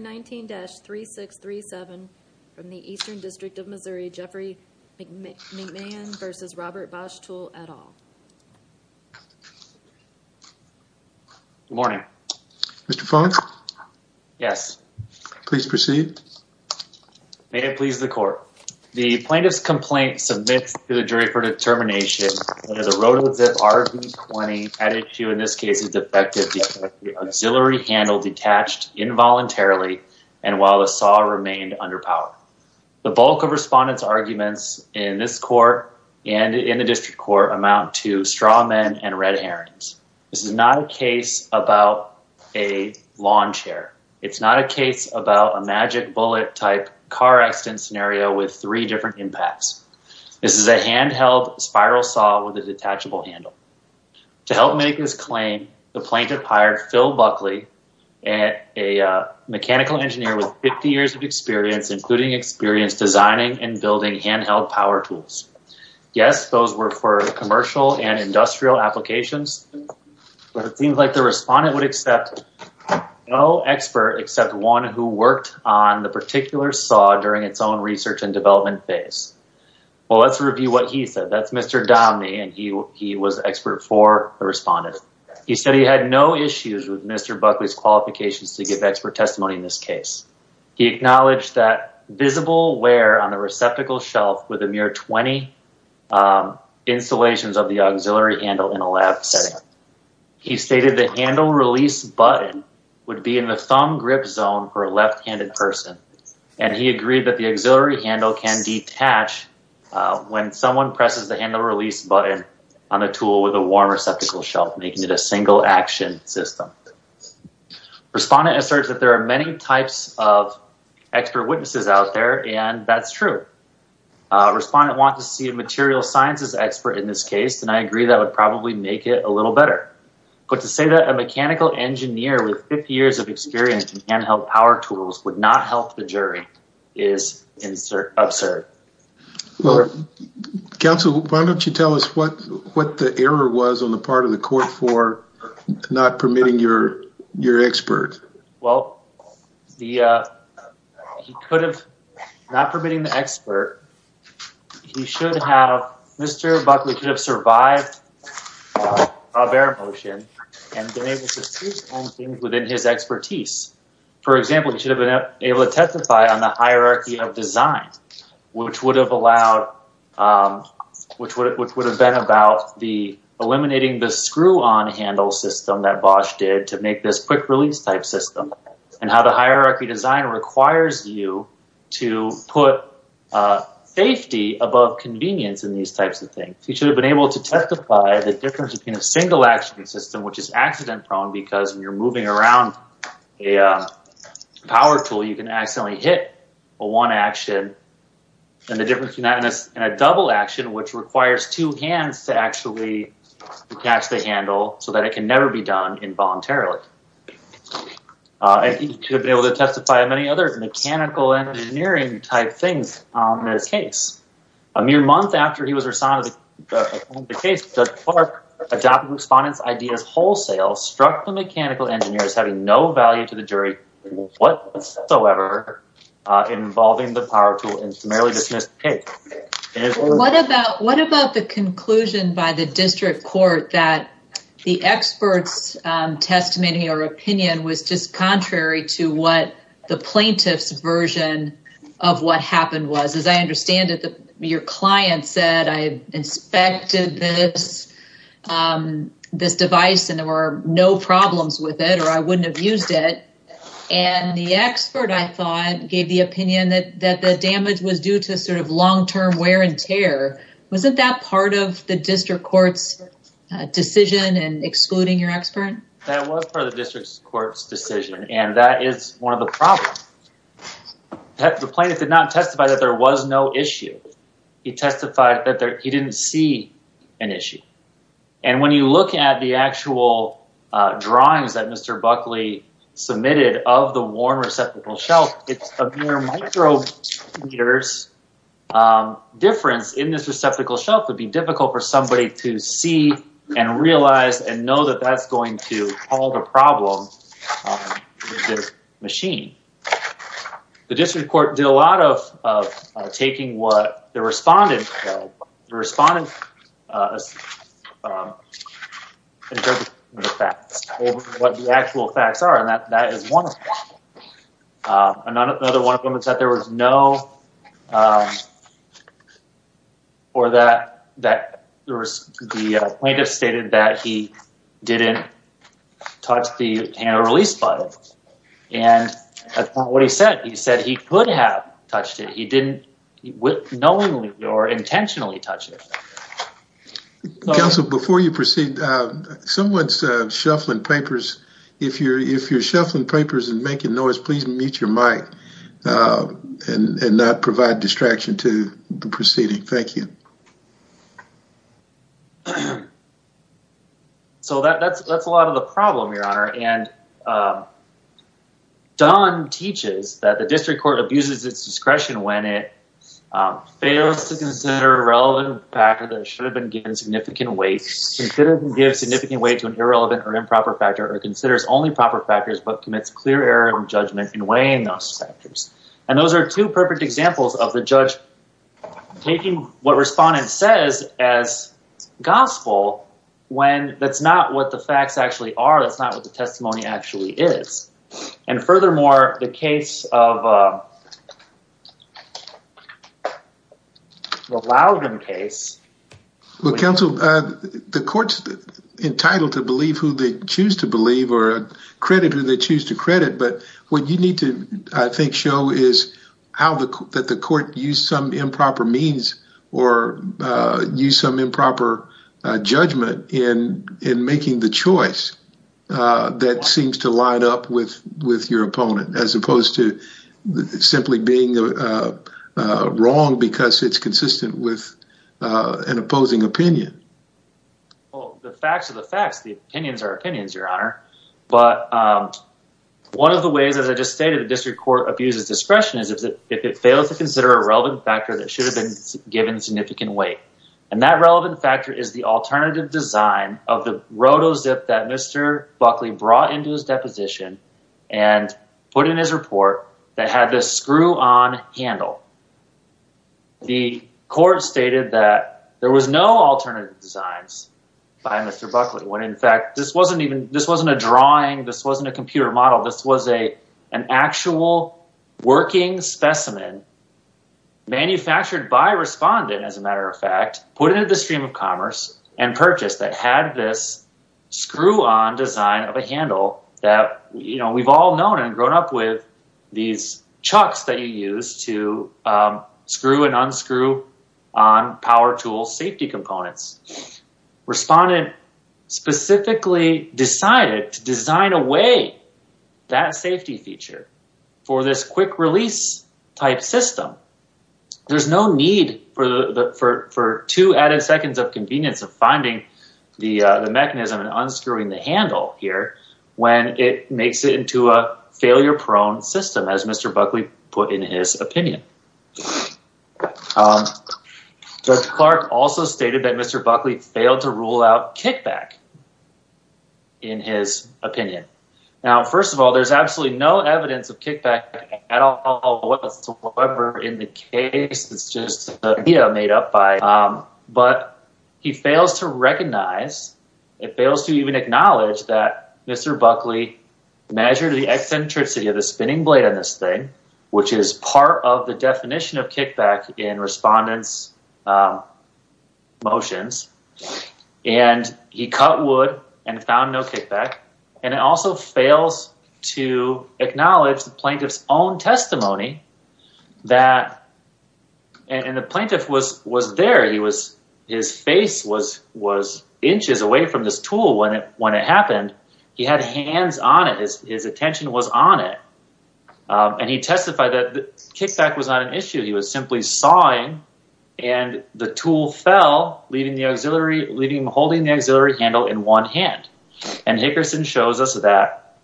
19-3637 from the Eastern District of Missouri, Jeffrey McMahon versus Robert Bosch Tool at all. Good morning. Mr. Fung? Yes. Please proceed. May it please the court. The plaintiff's complaint submits to the jury for determination whether the Roto-Zip RV-20 at issue in this case is effective. The auxiliary handle detached involuntarily and while the saw remained under power. The bulk of respondents arguments in this court and in the district court amount to straw men and red herrings. This is not a case about a lawn chair. It's not a case about a magic bullet type car accident scenario with three different impacts. This is a handheld spiral saw with a plaintiff hired Phil Buckley, a mechanical engineer with 50 years of experience, including experience designing and building handheld power tools. Yes, those were for commercial and industrial applications, but it seems like the respondent would accept no expert except one who worked on the particular saw during its own research and development phase. Well, let's issues with Mr. Buckley's qualifications to give expert testimony in this case. He acknowledged that visible wear on the receptacle shelf with a mere 20 installations of the auxiliary handle in a lab setting. He stated the handle release button would be in the thumb grip zone for a left-handed person, and he agreed that the auxiliary handle can detach when someone presses the handle release button on the tool with a warm receptacle shelf, making it a single action system. Respondent asserts that there are many types of expert witnesses out there, and that's true. Respondent wants to see a material sciences expert in this case, and I agree that would probably make it a little better. But to say that a mechanical engineer with 50 years of experience in handheld power tools would not help the jury is absurd. Well, counsel, why don't you tell us what the error was on the part of the court for not permitting your expert? Well, he could have, not permitting the expert, he should have, Mr. Buckley could have survived a bear motion and been able to see things within his expertise. For example, he should have been able to testify on the hierarchy of design, which would have allowed, which would have been about the eliminating the screw-on handle system that Bosch did to make this quick release type system, and how the hierarchy design requires you to put safety above convenience in these types of things. He should have been able to testify the difference between a single action system, which is accident prone, because when you're one action, and the difference between that and a double action, which requires two hands to actually attach the handle so that it can never be done involuntarily. He should have been able to testify on many other mechanical engineering type things in this case. A mere month after he was assigned to the case, Judge Clark adopted Respondent's ideas wholesale, struck the mechanical engineers having no value to the jury whatsoever, involving the power tool and merely dismissed the case. What about the conclusion by the district court that the expert's testimony or opinion was just contrary to what the plaintiff's version of what happened was? As I understand it, your client said, I inspected this device and there were no problems with it, or I wouldn't have used it, and the expert, I thought, gave the opinion that the damage was due to sort of long-term wear and tear. Wasn't that part of the district court's decision in excluding your expert? That was part of the district court's decision, and that is one of the problems. The plaintiff did not testify that there was no issue. He testified that he didn't see an issue, and when you look at the actual drawings that Mr. Buckley submitted of the worn receptacle shelf, it's a mere micrometer's difference in this receptacle shelf would be difficult for somebody to see and realize and the district court did a lot of taking what the respondent interpreted as facts over what the actual facts are, and that is one of them. Another one of them is that there was no, or that the plaintiff stated that he didn't touch the handle release button, and that's not what he said. He said he could have touched it. He didn't knowingly or intentionally touch it. Counsel, before you proceed, someone's shuffling papers. If you're shuffling papers and making noise, please mute your mic and not provide distraction to the proceeding. Thank you. So, that's a lot of the problem, Your Honor, and Dunn teaches that the district court abuses its discretion when it fails to consider a relevant factor that should have been given significant weight to an irrelevant or improper factor or considers only proper factors but commits clear error of judgment in weighing those factors, and those are two perfect examples of the judge taking what respondent says as gospel when that's not what the facts actually are. That's not what the testimony actually is, and furthermore, the case of the Loudon case. Well, counsel, the court's entitled to believe who they choose to believe or credit who they choose to credit, but what you need to, I think, show is how that the court used some improper means or used some improper judgment in making the choice that seems to line up with your opponent as opposed to simply being wrong because it's consistent with an opposing opinion. Well, the facts are the facts. The opinions are opinions, Your Honor, but one of the ways, as I just stated, the district court abuses discretion is if it fails to consider a relevant factor that should have been given significant weight, and that relevant factor is the alternative design of the roto-zip that Mr. Buckley brought into his deposition and put in his report that had this screw-on handle. The court stated that there was no alternative designs by Mr. Buckley when, in fact, this wasn't even this wasn't a computer model. This was an actual working specimen manufactured by Respondent, as a matter of fact, put into the stream of commerce and purchased that had this screw-on design of a handle that, you know, we've all known and grown up with these chucks that you use to screw and design away that safety feature for this quick release type system. There's no need for two added seconds of convenience of finding the mechanism and unscrewing the handle here when it makes it into a failure prone system as Mr. Buckley put in his opinion. Judge Clark also stated that Mr. Buckley failed to rule out kickback in his opinion. Now, first of all, there's absolutely no evidence of kickback at all whatsoever in the case. It's just made up by, but he fails to recognize, it fails to even acknowledge that Mr. Buckley measured the eccentricity of the spinning blade on this thing, which is part of definition of kickback in Respondent's motions, and he cut wood and found no kickback, and it also fails to acknowledge the plaintiff's own testimony that, and the plaintiff was there, his face was inches away from this tool when it happened. He had hands on it, his attention was on it, and he testified that kickback was not an issue. He was simply sawing, and the tool fell, leaving the auxiliary, holding the auxiliary handle in one hand, and Hickerson shows us that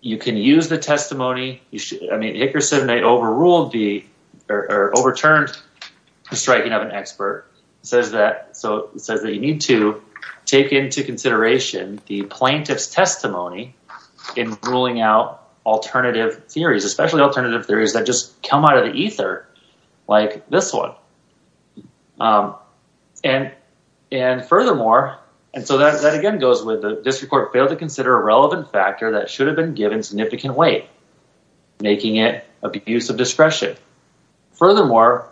you can use the testimony. I mean, Hickerson, they overruled the, or overturned the striking of an expert. It says that, so it says that you need to take into consideration the plaintiff's ruling out alternative theories, especially alternative theories that just come out of the ether like this one, and furthermore, and so that again goes with the district court failed to consider a relevant factor that should have been given significant weight, making it abuse of discretion. Furthermore,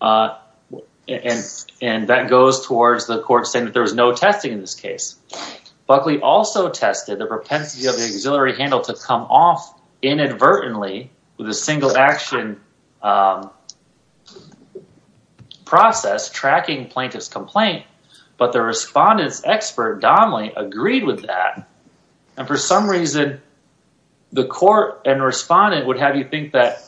and that goes towards the court saying that there was no testing in this to come off inadvertently with a single action process tracking plaintiff's complaint, but the respondent's expert agreed with that, and for some reason, the court and respondent would have you think that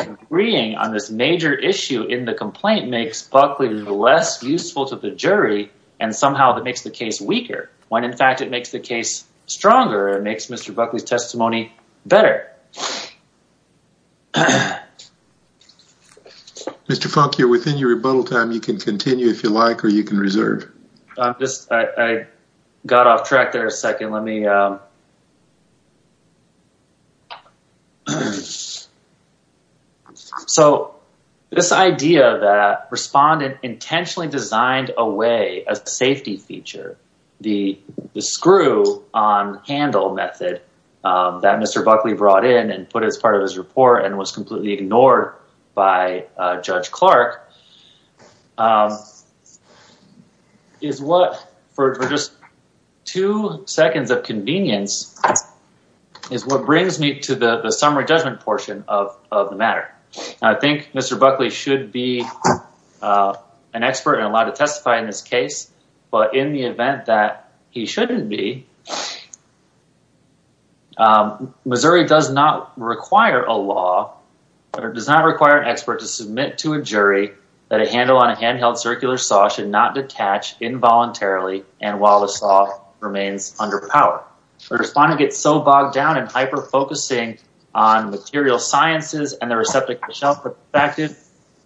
agreeing on this major issue in the complaint makes Buckley less useful to the jury, and somehow that makes the case weaker, when in fact it makes the case stronger, it makes Mr. Buckley's testimony better. Mr. Funk, you're within your rebuttal time. You can continue if you like, or you can reserve. I'm just, I got off track there a second. Let me, so this idea that respondent intentionally designed away a safety feature, the screw on handle method that Mr. Buckley brought in and put as part of his report and was completely ignored by Judge Clark is what, for just two seconds of convenience, is what brings me to the summary judgment portion of the matter. I think Mr. Buckley should be an expert and allowed to testify in this case, but in the event that he shouldn't be, Missouri does not require a law, or does not require an expert to submit to a jury that a handle on a handheld circular saw should not detach involuntarily and while the saw remains under power. The respondent gets so bogged down in hyper-focusing on material sciences and the receptacle shelf perspective,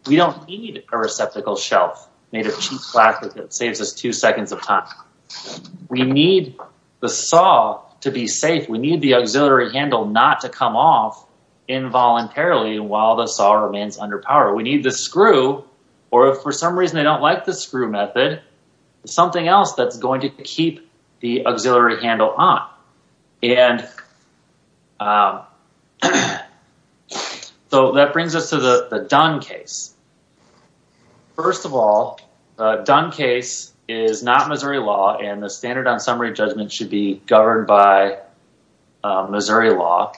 we don't need a receptacle shelf made of cheap plastic that saves us two seconds of time. We need the saw to be safe. We need the auxiliary handle not to come off involuntarily while the saw remains under power. We need the screw, or if for some reason they don't like the screw method, something else that's going to keep the auxiliary handle on. So that brings us to the Dunn case. First of all, the Dunn case is not Missouri law and the standard on summary judgment should be governed by Missouri law.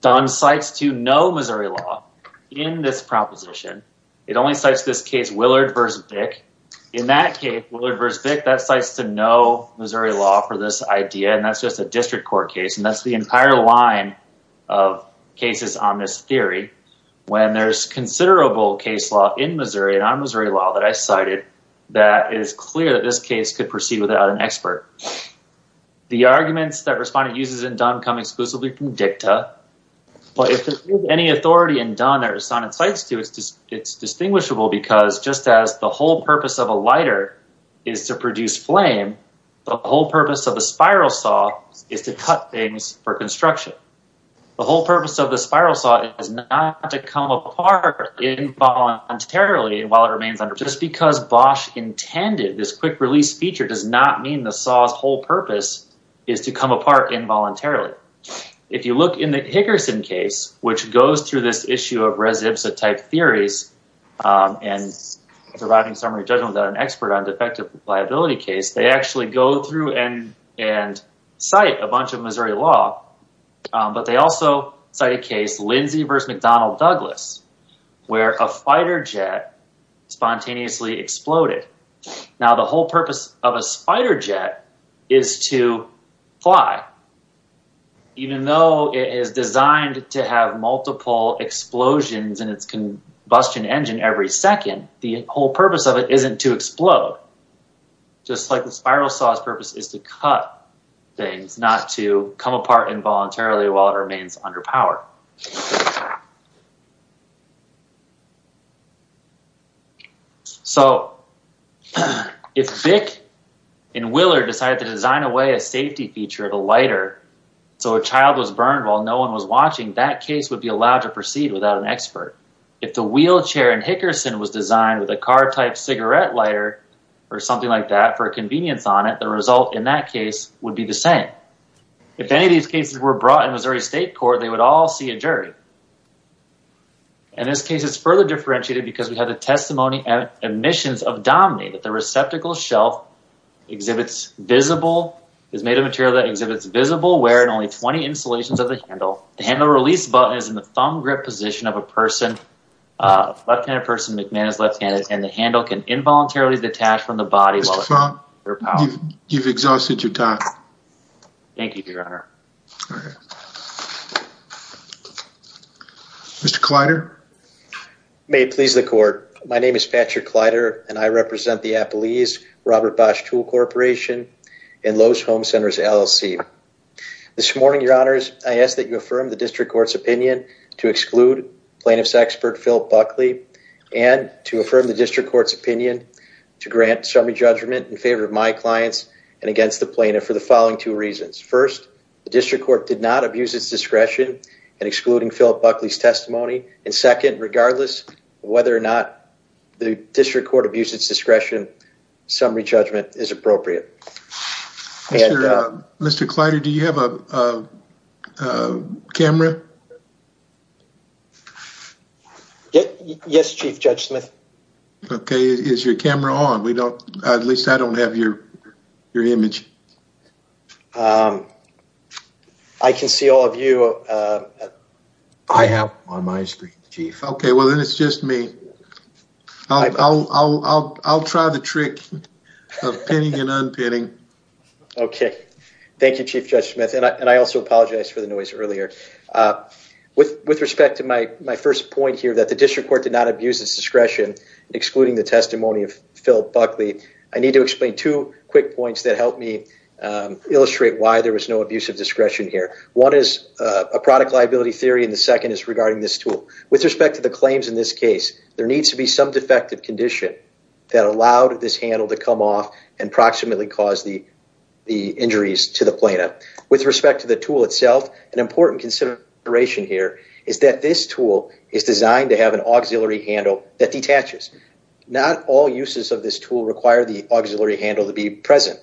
Dunn cites to no Missouri law in this proposition. It only cites this case Willard v. Bick. In that case, Willard v. Bick, that cites to no Missouri law for this idea and that's just a district court case and that's the entire line of cases on this theory. When there's considerable case law in Missouri and on Missouri law that I cited, that is clear that this case could proceed without an expert. The arguments that respondent uses in Dunn come exclusively from dicta, but if there's any authority in Dunn that respondent cites to, it's distinguishable because just as the whole purpose of a lighter is to produce flame, the whole purpose of a spiral saw is to cut things for construction. The whole purpose of the spiral saw is not to come apart involuntarily while it remains under power. Just because Bosch intended this quick release feature does not mean the saw's whole purpose is to come apart involuntarily. If you look in the Higgerson case, which goes through this issue of res ipsa type theories and surviving summary judgment without an expert on defective liability case, they actually go through and cite a bunch of Missouri law, but they also cite a case, Lindsay v. McDonnell Douglas, where a fighter jet spontaneously exploded. Now the whole purpose of a fighter jet is to fly, even though it is designed to have multiple explosions in its combustion engine every second, the whole purpose of it isn't to explode. Just like the spiral saw's purpose is to cut things, not to come apart involuntarily while it remains under power. So if Bick and Willard decided to design away a safety feature of a lighter so a child was burned while no one was watching, that case would be allowed to proceed without an expert. If the wheelchair in Higgerson was designed with a car type cigarette lighter or something like that for convenience on it, the result in that case would be the same. If any of these cases were brought in Missouri State Court, they would all see a jury. In this case, it's further differentiated because we have the testimony and admissions of Dominey that the receptacle shelf exhibits visible, is made of material that exhibits visible wear and only 20 installations of the handle. The handle release button is in the thumb grip position of a person, a left-handed person, McMahon is left-handed, and the handle can involuntarily detach from the body. You've exhausted your time. Thank you, Your Honor. Okay. Mr. Kleider? May it please the court, my name is Patrick Kleider and I represent the Appalese Robert Bosch Tool Corporation and Lowe's Home Centers LLC. This morning, Your Honors, I ask that you affirm the district court's opinion to exclude plaintiff's expert, Phil Buckley, and to affirm the district court's opinion to grant summary judgment in favor of my clients and against the plaintiff for the following two reasons. First, the district court did not abuse its discretion in excluding Philip Buckley's testimony. And second, regardless of whether or not the district court abused its discretion, summary judgment is appropriate. Mr. Kleider, do you have a camera? Yes, Chief Judge Smith. Okay. Is your camera on? At least I don't have your image. I can see all of you. I have on my screen, Chief. Okay, well then it's just me. I'll try the trick of pinning and unpinning. Okay. Thank you, Chief Judge Smith. And I also apologize for the noise earlier. With respect to my first point here that the district court did not abuse its discretion excluding the testimony of Phil Buckley, I need to explain two quick points that help me illustrate why there was no abuse of discretion here. One is a product liability theory, and the second is regarding this tool. With respect to the claims in this case, there needs to be some defective condition that allowed this handle to come off and proximately cause the injuries to the plaintiff. With respect to the tool itself, an important consideration here is that this tool is designed to have an auxiliary handle that detaches. Not all uses of this tool require the auxiliary handle to be present.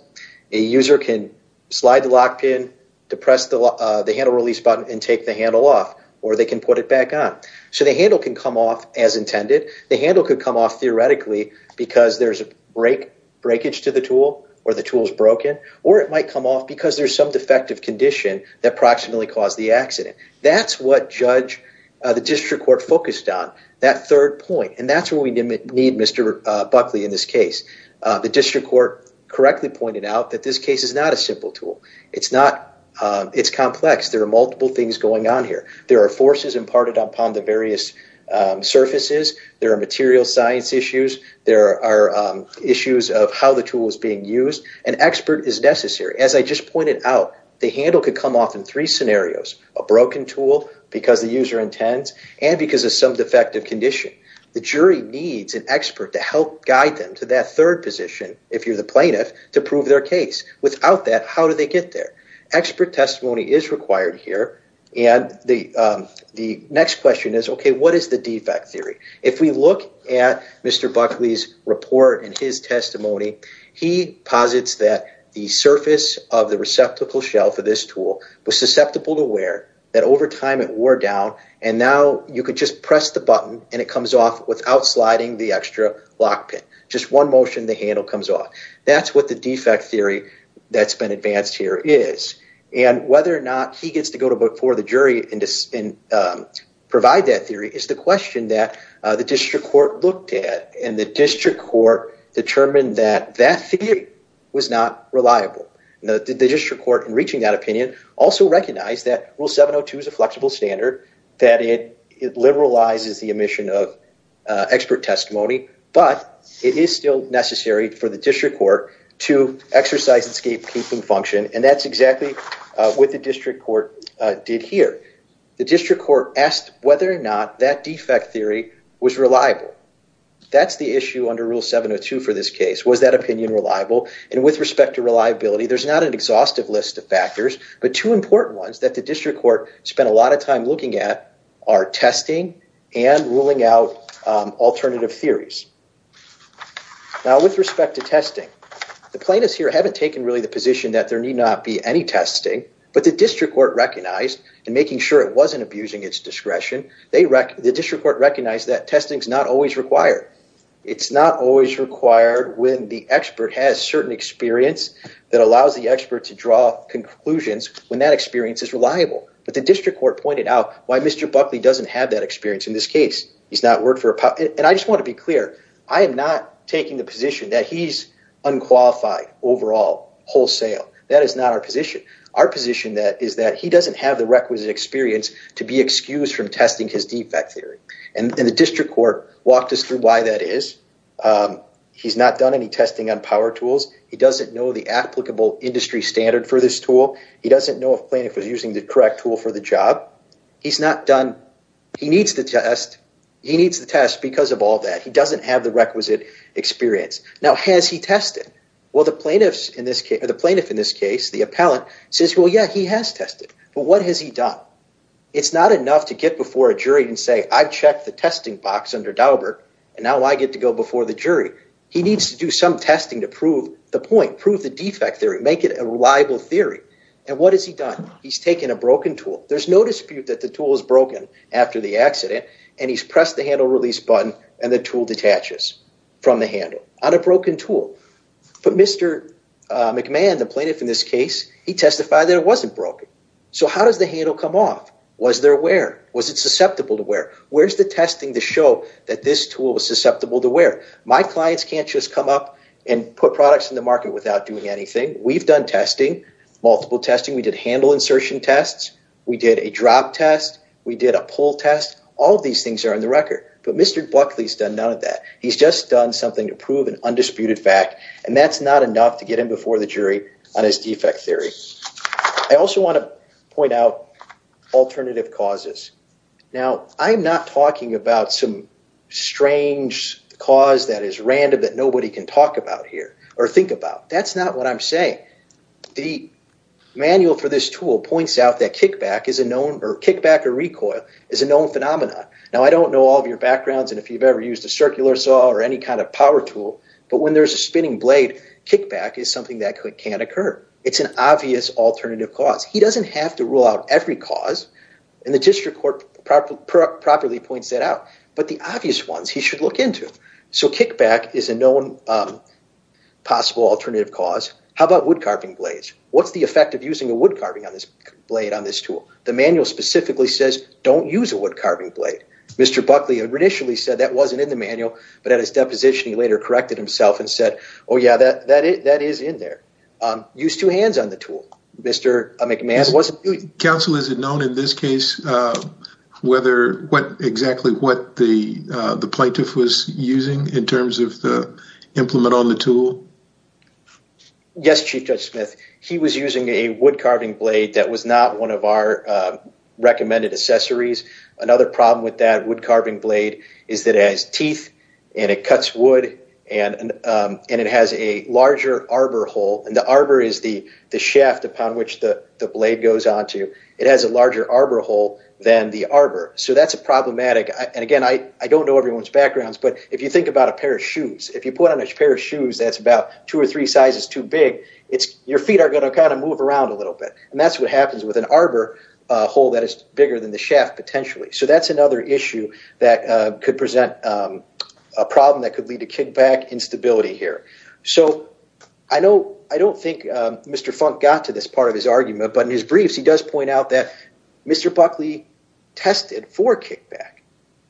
A user can slide the lock pin, depress the handle release button, and take the handle off, or they can put it back on. So the handle can come off as intended. The handle could come off theoretically because there's a breakage to the tool, or the tool's broken, or it might come off because there's some defective condition that proximately caused the accident. That's what the district court focused on, that third point, and that's where we need Mr. Buckley in this case. The district court correctly pointed out that this case is not a simple tool. It's complex. There are multiple things going on here. There are forces imparted upon the various surfaces. There are material science issues. There are issues of how the tool is being used. An expert is necessary. As I just pointed out, the handle could come off in three scenarios. A broken tool, because the user intends, and because of some defective condition. The jury needs an expert to help guide them to that third position, if you're the plaintiff, to prove their case. Without that, how do they get there? Expert testimony is required here, and the next question is, okay, what is the defect theory? If we look at Mr. Buckley's report and his testimony, he posits that the surface of the you could just press the button, and it comes off without sliding the extra lock pin. Just one motion, the handle comes off. That's what the defect theory that's been advanced here is. Whether or not he gets to go before the jury and provide that theory is the question that the district court looked at, and the district court determined that that theory was not reliable. The district court, in reaching that opinion, also recognized that Rule 702 is a flexible standard, that it liberalizes the emission of expert testimony, but it is still necessary for the district court to exercise its gatekeeping function, and that's exactly what the district court did here. The district court asked whether or not that defect theory was reliable. That's the issue under Rule 702 for this case. Was that opinion reliable? And with respect to reliability, there's not an exhaustive list of factors, but two important ones that the district court spent a lot of time looking at are testing and ruling out alternative theories. Now with respect to testing, the plaintiffs here haven't taken really the position that there need not be any testing, but the district court recognized, and making sure it wasn't abusing its discretion, the district court recognized that testing is not always required. It's not always required when the expert has certain experience that allows the expert to draw conclusions when that experience is reliable, but the district court pointed out why Mr. Buckley doesn't have that experience in this case. He's not worked for a power—and I just want to be clear, I am not taking the position that he's unqualified overall, wholesale. That is not our position. Our position is that he doesn't have the requisite experience to be excused from testing his defect theory, and the district court walked us through why that is. He's not done any testing on power tools. He doesn't know the applicable industry standard for this tool. He doesn't know if plaintiff was using the correct tool for the job. He's not done—he needs the test. He needs the test because of all that. He doesn't have the requisite experience. Now, has he tested? Well, the plaintiff in this case, the appellant, says, well, yeah, he has tested, but what has he done? It's not enough to get before a jury and say, I've checked the testing box under Daubert, and now I get to go before the jury. He needs to do some testing to prove the point, prove the defect theory, make it a reliable theory. And what has he done? He's taken a broken tool. There's no dispute that the tool is broken after the accident, and he's pressed the handle release button, and the tool detaches from the handle on a broken tool. But Mr. McMahon, the plaintiff in this case, he testified that it wasn't broken. So how does the handle come off? Was there wear? Was it susceptible to wear? Where's the testing to show that this tool was susceptible to wear? My clients can't just come up and put products in the market without doing anything. We've done testing, multiple testing. We did handle insertion tests. We did a drop test. We did a pull test. All these things are on the record. But Mr. Buckley's done none of that. He's just done something to prove an undisputed fact, and that's not enough to get him before the jury on his defect theory. I also want to point out alternative causes. Now, I'm not talking about some strange cause that is random that nobody can talk about here or think about. That's not what I'm saying. The manual for this tool points out that kickback is a known, or kickback or recoil, is a known phenomenon. Now, I don't know all of your backgrounds and if you've ever used a circular saw or any kind of power tool, but when there's a spinning blade, kickback is something that can occur. It's an obvious alternative cause. He doesn't have to rule out every cause, and the district court properly points that out, but the obvious ones he should look into. So kickback is a known possible alternative cause. How about woodcarving blades? What's the effect of using a woodcarving blade on this tool? The manual specifically says don't use a woodcarving blade. Mr. Buckley initially said that wasn't in the manual, but at his deposition he later corrected himself and said, oh yeah, that is in there. Use two hands on the tool. Counsel, is it known in this case exactly what the plaintiff was using in terms of the implement on the tool? Yes, Chief Judge Smith. He was using a woodcarving blade that was not one of our recommended accessories. Another problem with that wood is that it has a larger arbor hole, and the arbor is the shaft upon which the blade goes onto. It has a larger arbor hole than the arbor, so that's problematic. And again, I don't know everyone's backgrounds, but if you think about a pair of shoes, if you put on a pair of shoes that's about two or three sizes too big, your feet are going to kind of move around a little bit, and that's what happens with an arbor hole that is bigger than the shaft potentially. So that's another issue that could present a problem that could lead to kickback instability here. So I don't think Mr. Funk got to this part of his argument, but in his briefs he does point out that Mr. Buckley tested for kickback,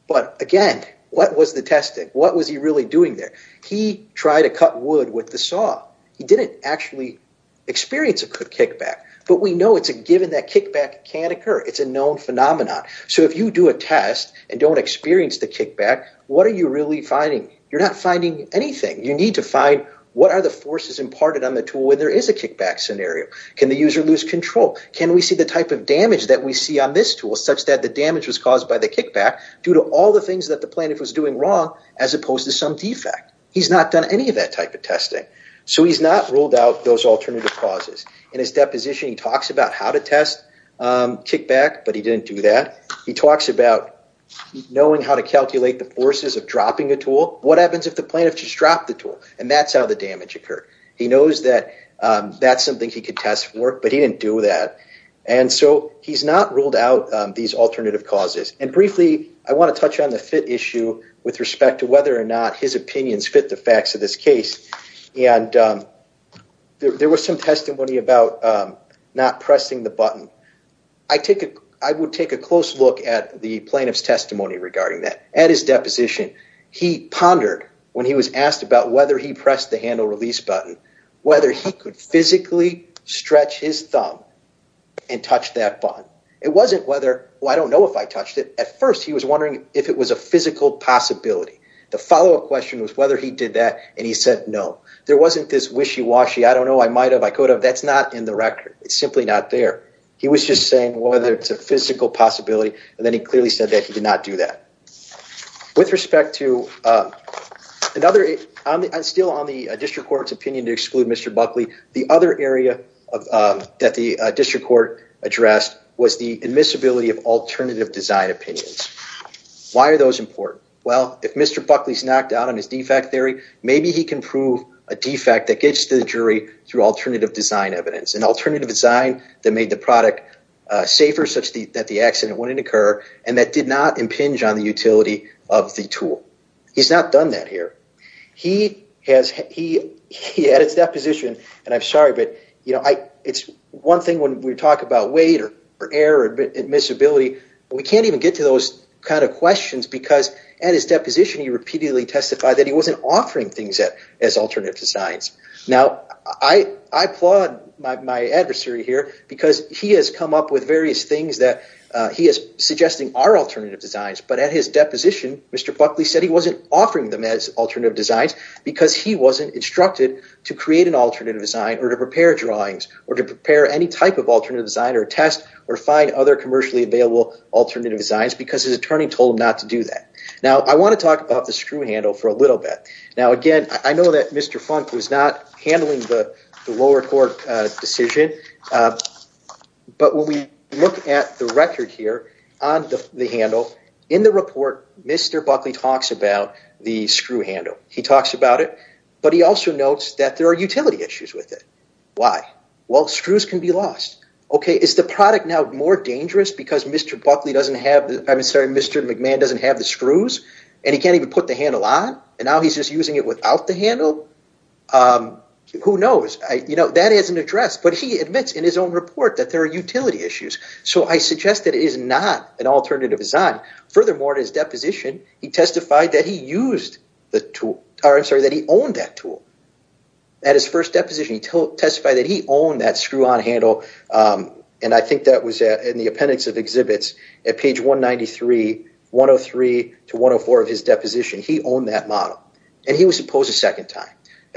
but again, what was the testing? What was he really doing there? He tried to cut wood with the saw. He didn't actually experience a good kickback, but we know it's a given that kickback can occur. It's a known phenomenon. So if you do a test and don't experience the kickback, what are you really finding? You're not finding anything. You need to find what are the forces imparted on the tool when there is a kickback scenario. Can the user lose control? Can we see the type of damage that we see on this tool such that the damage was caused by the kickback due to all the things that the plaintiff was doing wrong as opposed to some defect? He's not done any of that type of testing, so he's not ruled out those alternative causes. In his deposition he talks about how to test kickback, but he didn't do that. He talks about knowing how to calculate the forces of dropping a tool. What happens if the plaintiff just dropped the tool? And that's how the damage occurred. He knows that that's something he could test for, but he didn't do that. And so he's not ruled out these alternative causes. And briefly, I want to touch on the fit issue with respect to whether or not his opinions fit the facts of this not pressing the button. I would take a close look at the plaintiff's testimony regarding that. At his deposition, he pondered when he was asked about whether he pressed the handle release button, whether he could physically stretch his thumb and touch that button. It wasn't whether, well I don't know if I touched it. At first he was wondering if it was a physical possibility. The follow-up question was whether he did that, and he said no. There wasn't this wishy-washy, I don't know, I might have, I could have, that's not in the record. It's simply not there. He was just saying whether it's a physical possibility, and then he clearly said that he did not do that. With respect to another, still on the district court's opinion to exclude Mr. Buckley, the other area that the district court addressed was the admissibility of alternative design opinions. Why are those important? Well, if Mr. Buckley's knocked out on his defect theory, maybe he can prove a defect that gets to the jury through alternative design evidence. An alternative design that made the product safer, such that the accident wouldn't occur, and that did not impinge on the utility of the tool. He's not done that here. He has, at his deposition, and I'm sorry, but you know, it's one thing when we talk about weight or error, admissibility, we can't even get to those kind of questions because at his deposition, he repeatedly testified that he wasn't offering things as alternative designs. Now, I applaud my adversary here because he has come up with various things that he is suggesting are alternative designs, but at his deposition, Mr. Buckley said he wasn't offering them as alternative designs because he wasn't instructed to create an alternative design or to prepare drawings or to prepare any type of alternative design or test or find other commercially available alternative designs because his attorney told him not to do that. Now, I want to talk about the screw handle for a little bit. Now, again, I know that Mr. Funk was not handling the lower court decision, but when we look at the record here on the handle, in the report, Mr. Buckley talks about the screw handle. He talks about it, but he also notes that there are utility issues with it. Why? Well, screws can be lost. Is the product now more dangerous because Mr. Buckley doesn't have, I'm sorry, Mr. McMahon doesn't have the screws and he can't even put the handle on and now he's just using it without the handle? Who knows? That is an address, but he admits in his own report that there are utility issues, so I suggest that it is not an alternative design. Furthermore, in his deposition, he testified that he used the tool, or I'm sorry, that he owned that tool. At his first deposition, he testified that he owned that screw-on handle and I think that was in the appendix of exhibits at page 193, 103 to 104 of his deposition. He owned that model and he was opposed a second time.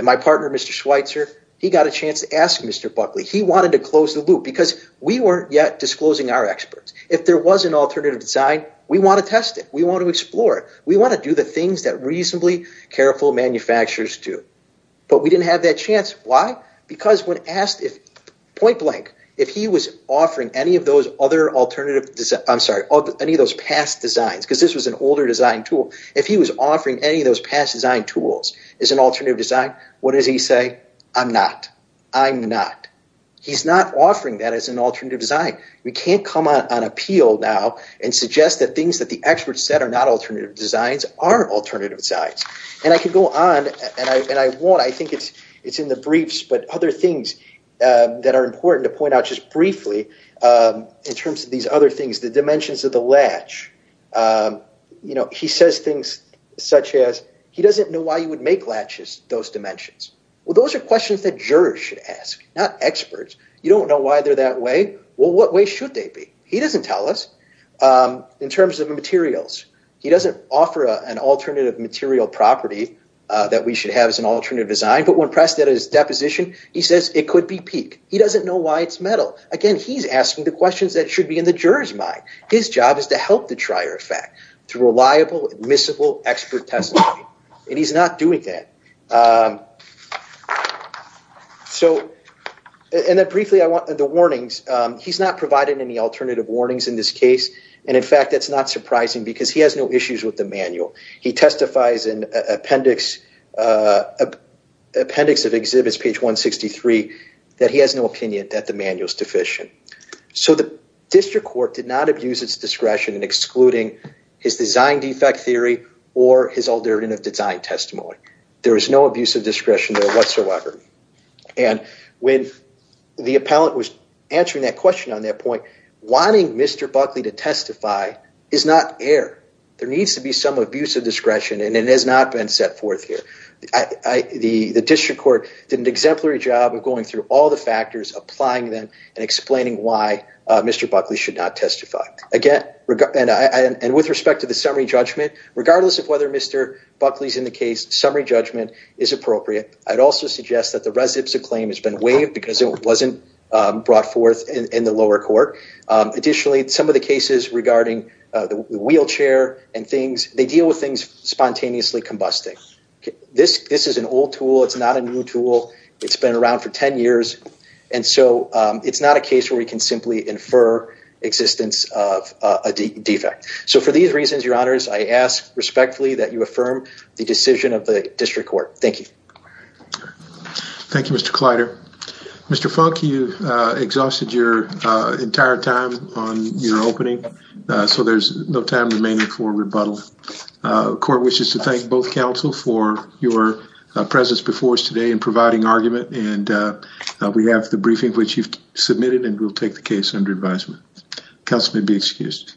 My partner, Mr. Schweitzer, he got a chance to ask Mr. Buckley. He wanted to close the loop because we weren't yet disclosing our experts. If there was an alternative design, we want to test it. We want to explore it. We want to do the things that but we didn't have that chance. Why? Because when asked if, point blank, if he was offering any of those past designs, because this was an older design tool, if he was offering any of those past design tools as an alternative design, what does he say? I'm not. I'm not. He's not offering that as an alternative design. We can't come out on appeal now and suggest that things that the experts said are not alternative designs are alternative designs. I could go on and I won't. I think it's in the briefs but other things that are important to point out just briefly in terms of these other things, the dimensions of the latch. He says things such as he doesn't know why you would make latches those dimensions. Well, those are questions that jurors should ask, not experts. You don't know why they're that way? Well, what way should they be? He doesn't tell us in terms of materials. He doesn't offer an alternative material property that we should have as an alternative design. But when pressed at his deposition, he says it could be peak. He doesn't know why it's metal. Again, he's asking the questions that should be in the juror's mind. His job is to help the trier of fact through reliable, admissible expert testimony. And he's not doing that. So, and then briefly, I want the warnings. He's not provided any alternative warnings in this case. And in fact, that's not surprising because he has no issues with the manual. He testifies in appendix of exhibits, page 163, that he has no opinion that the manual is deficient. So the district court did not abuse its discretion in excluding his design defect theory or his alternative design testimony. There is no abuse of discretion there whatsoever. And when the appellant was answering that question on that point, wanting Mr. Buckley to testify is not air. There needs to be some abuse of discretion and it has not been set forth here. The district court did an exemplary job of going through all the factors, applying them, and explaining why Mr. Buckley should not testify. Again, and with respect to the summary judgment, regardless of whether Mr. Buckley's in the case, summary judgment is appropriate. I'd also suggest that the residence of claim has been waived because it wasn't brought forth in the lower court. Additionally, some of the cases regarding the wheelchair and things, they deal with things spontaneously combusting. This is an old tool. It's not a new tool. It's been around for 10 years. And so it's not a case where we can simply infer existence of a defect. So for these reasons, your honors, I ask respectfully that you affirm the decision of the district court. Thank you. Thank you, Mr. Clyder. Mr. Funk, you exhausted your entire time on your opening. So there's no time remaining for rebuttal. Court wishes to thank both counsel for your presence before us today in providing argument. And we have the briefing which you've submitted and we'll take the case under advisement. Counsel may be excused.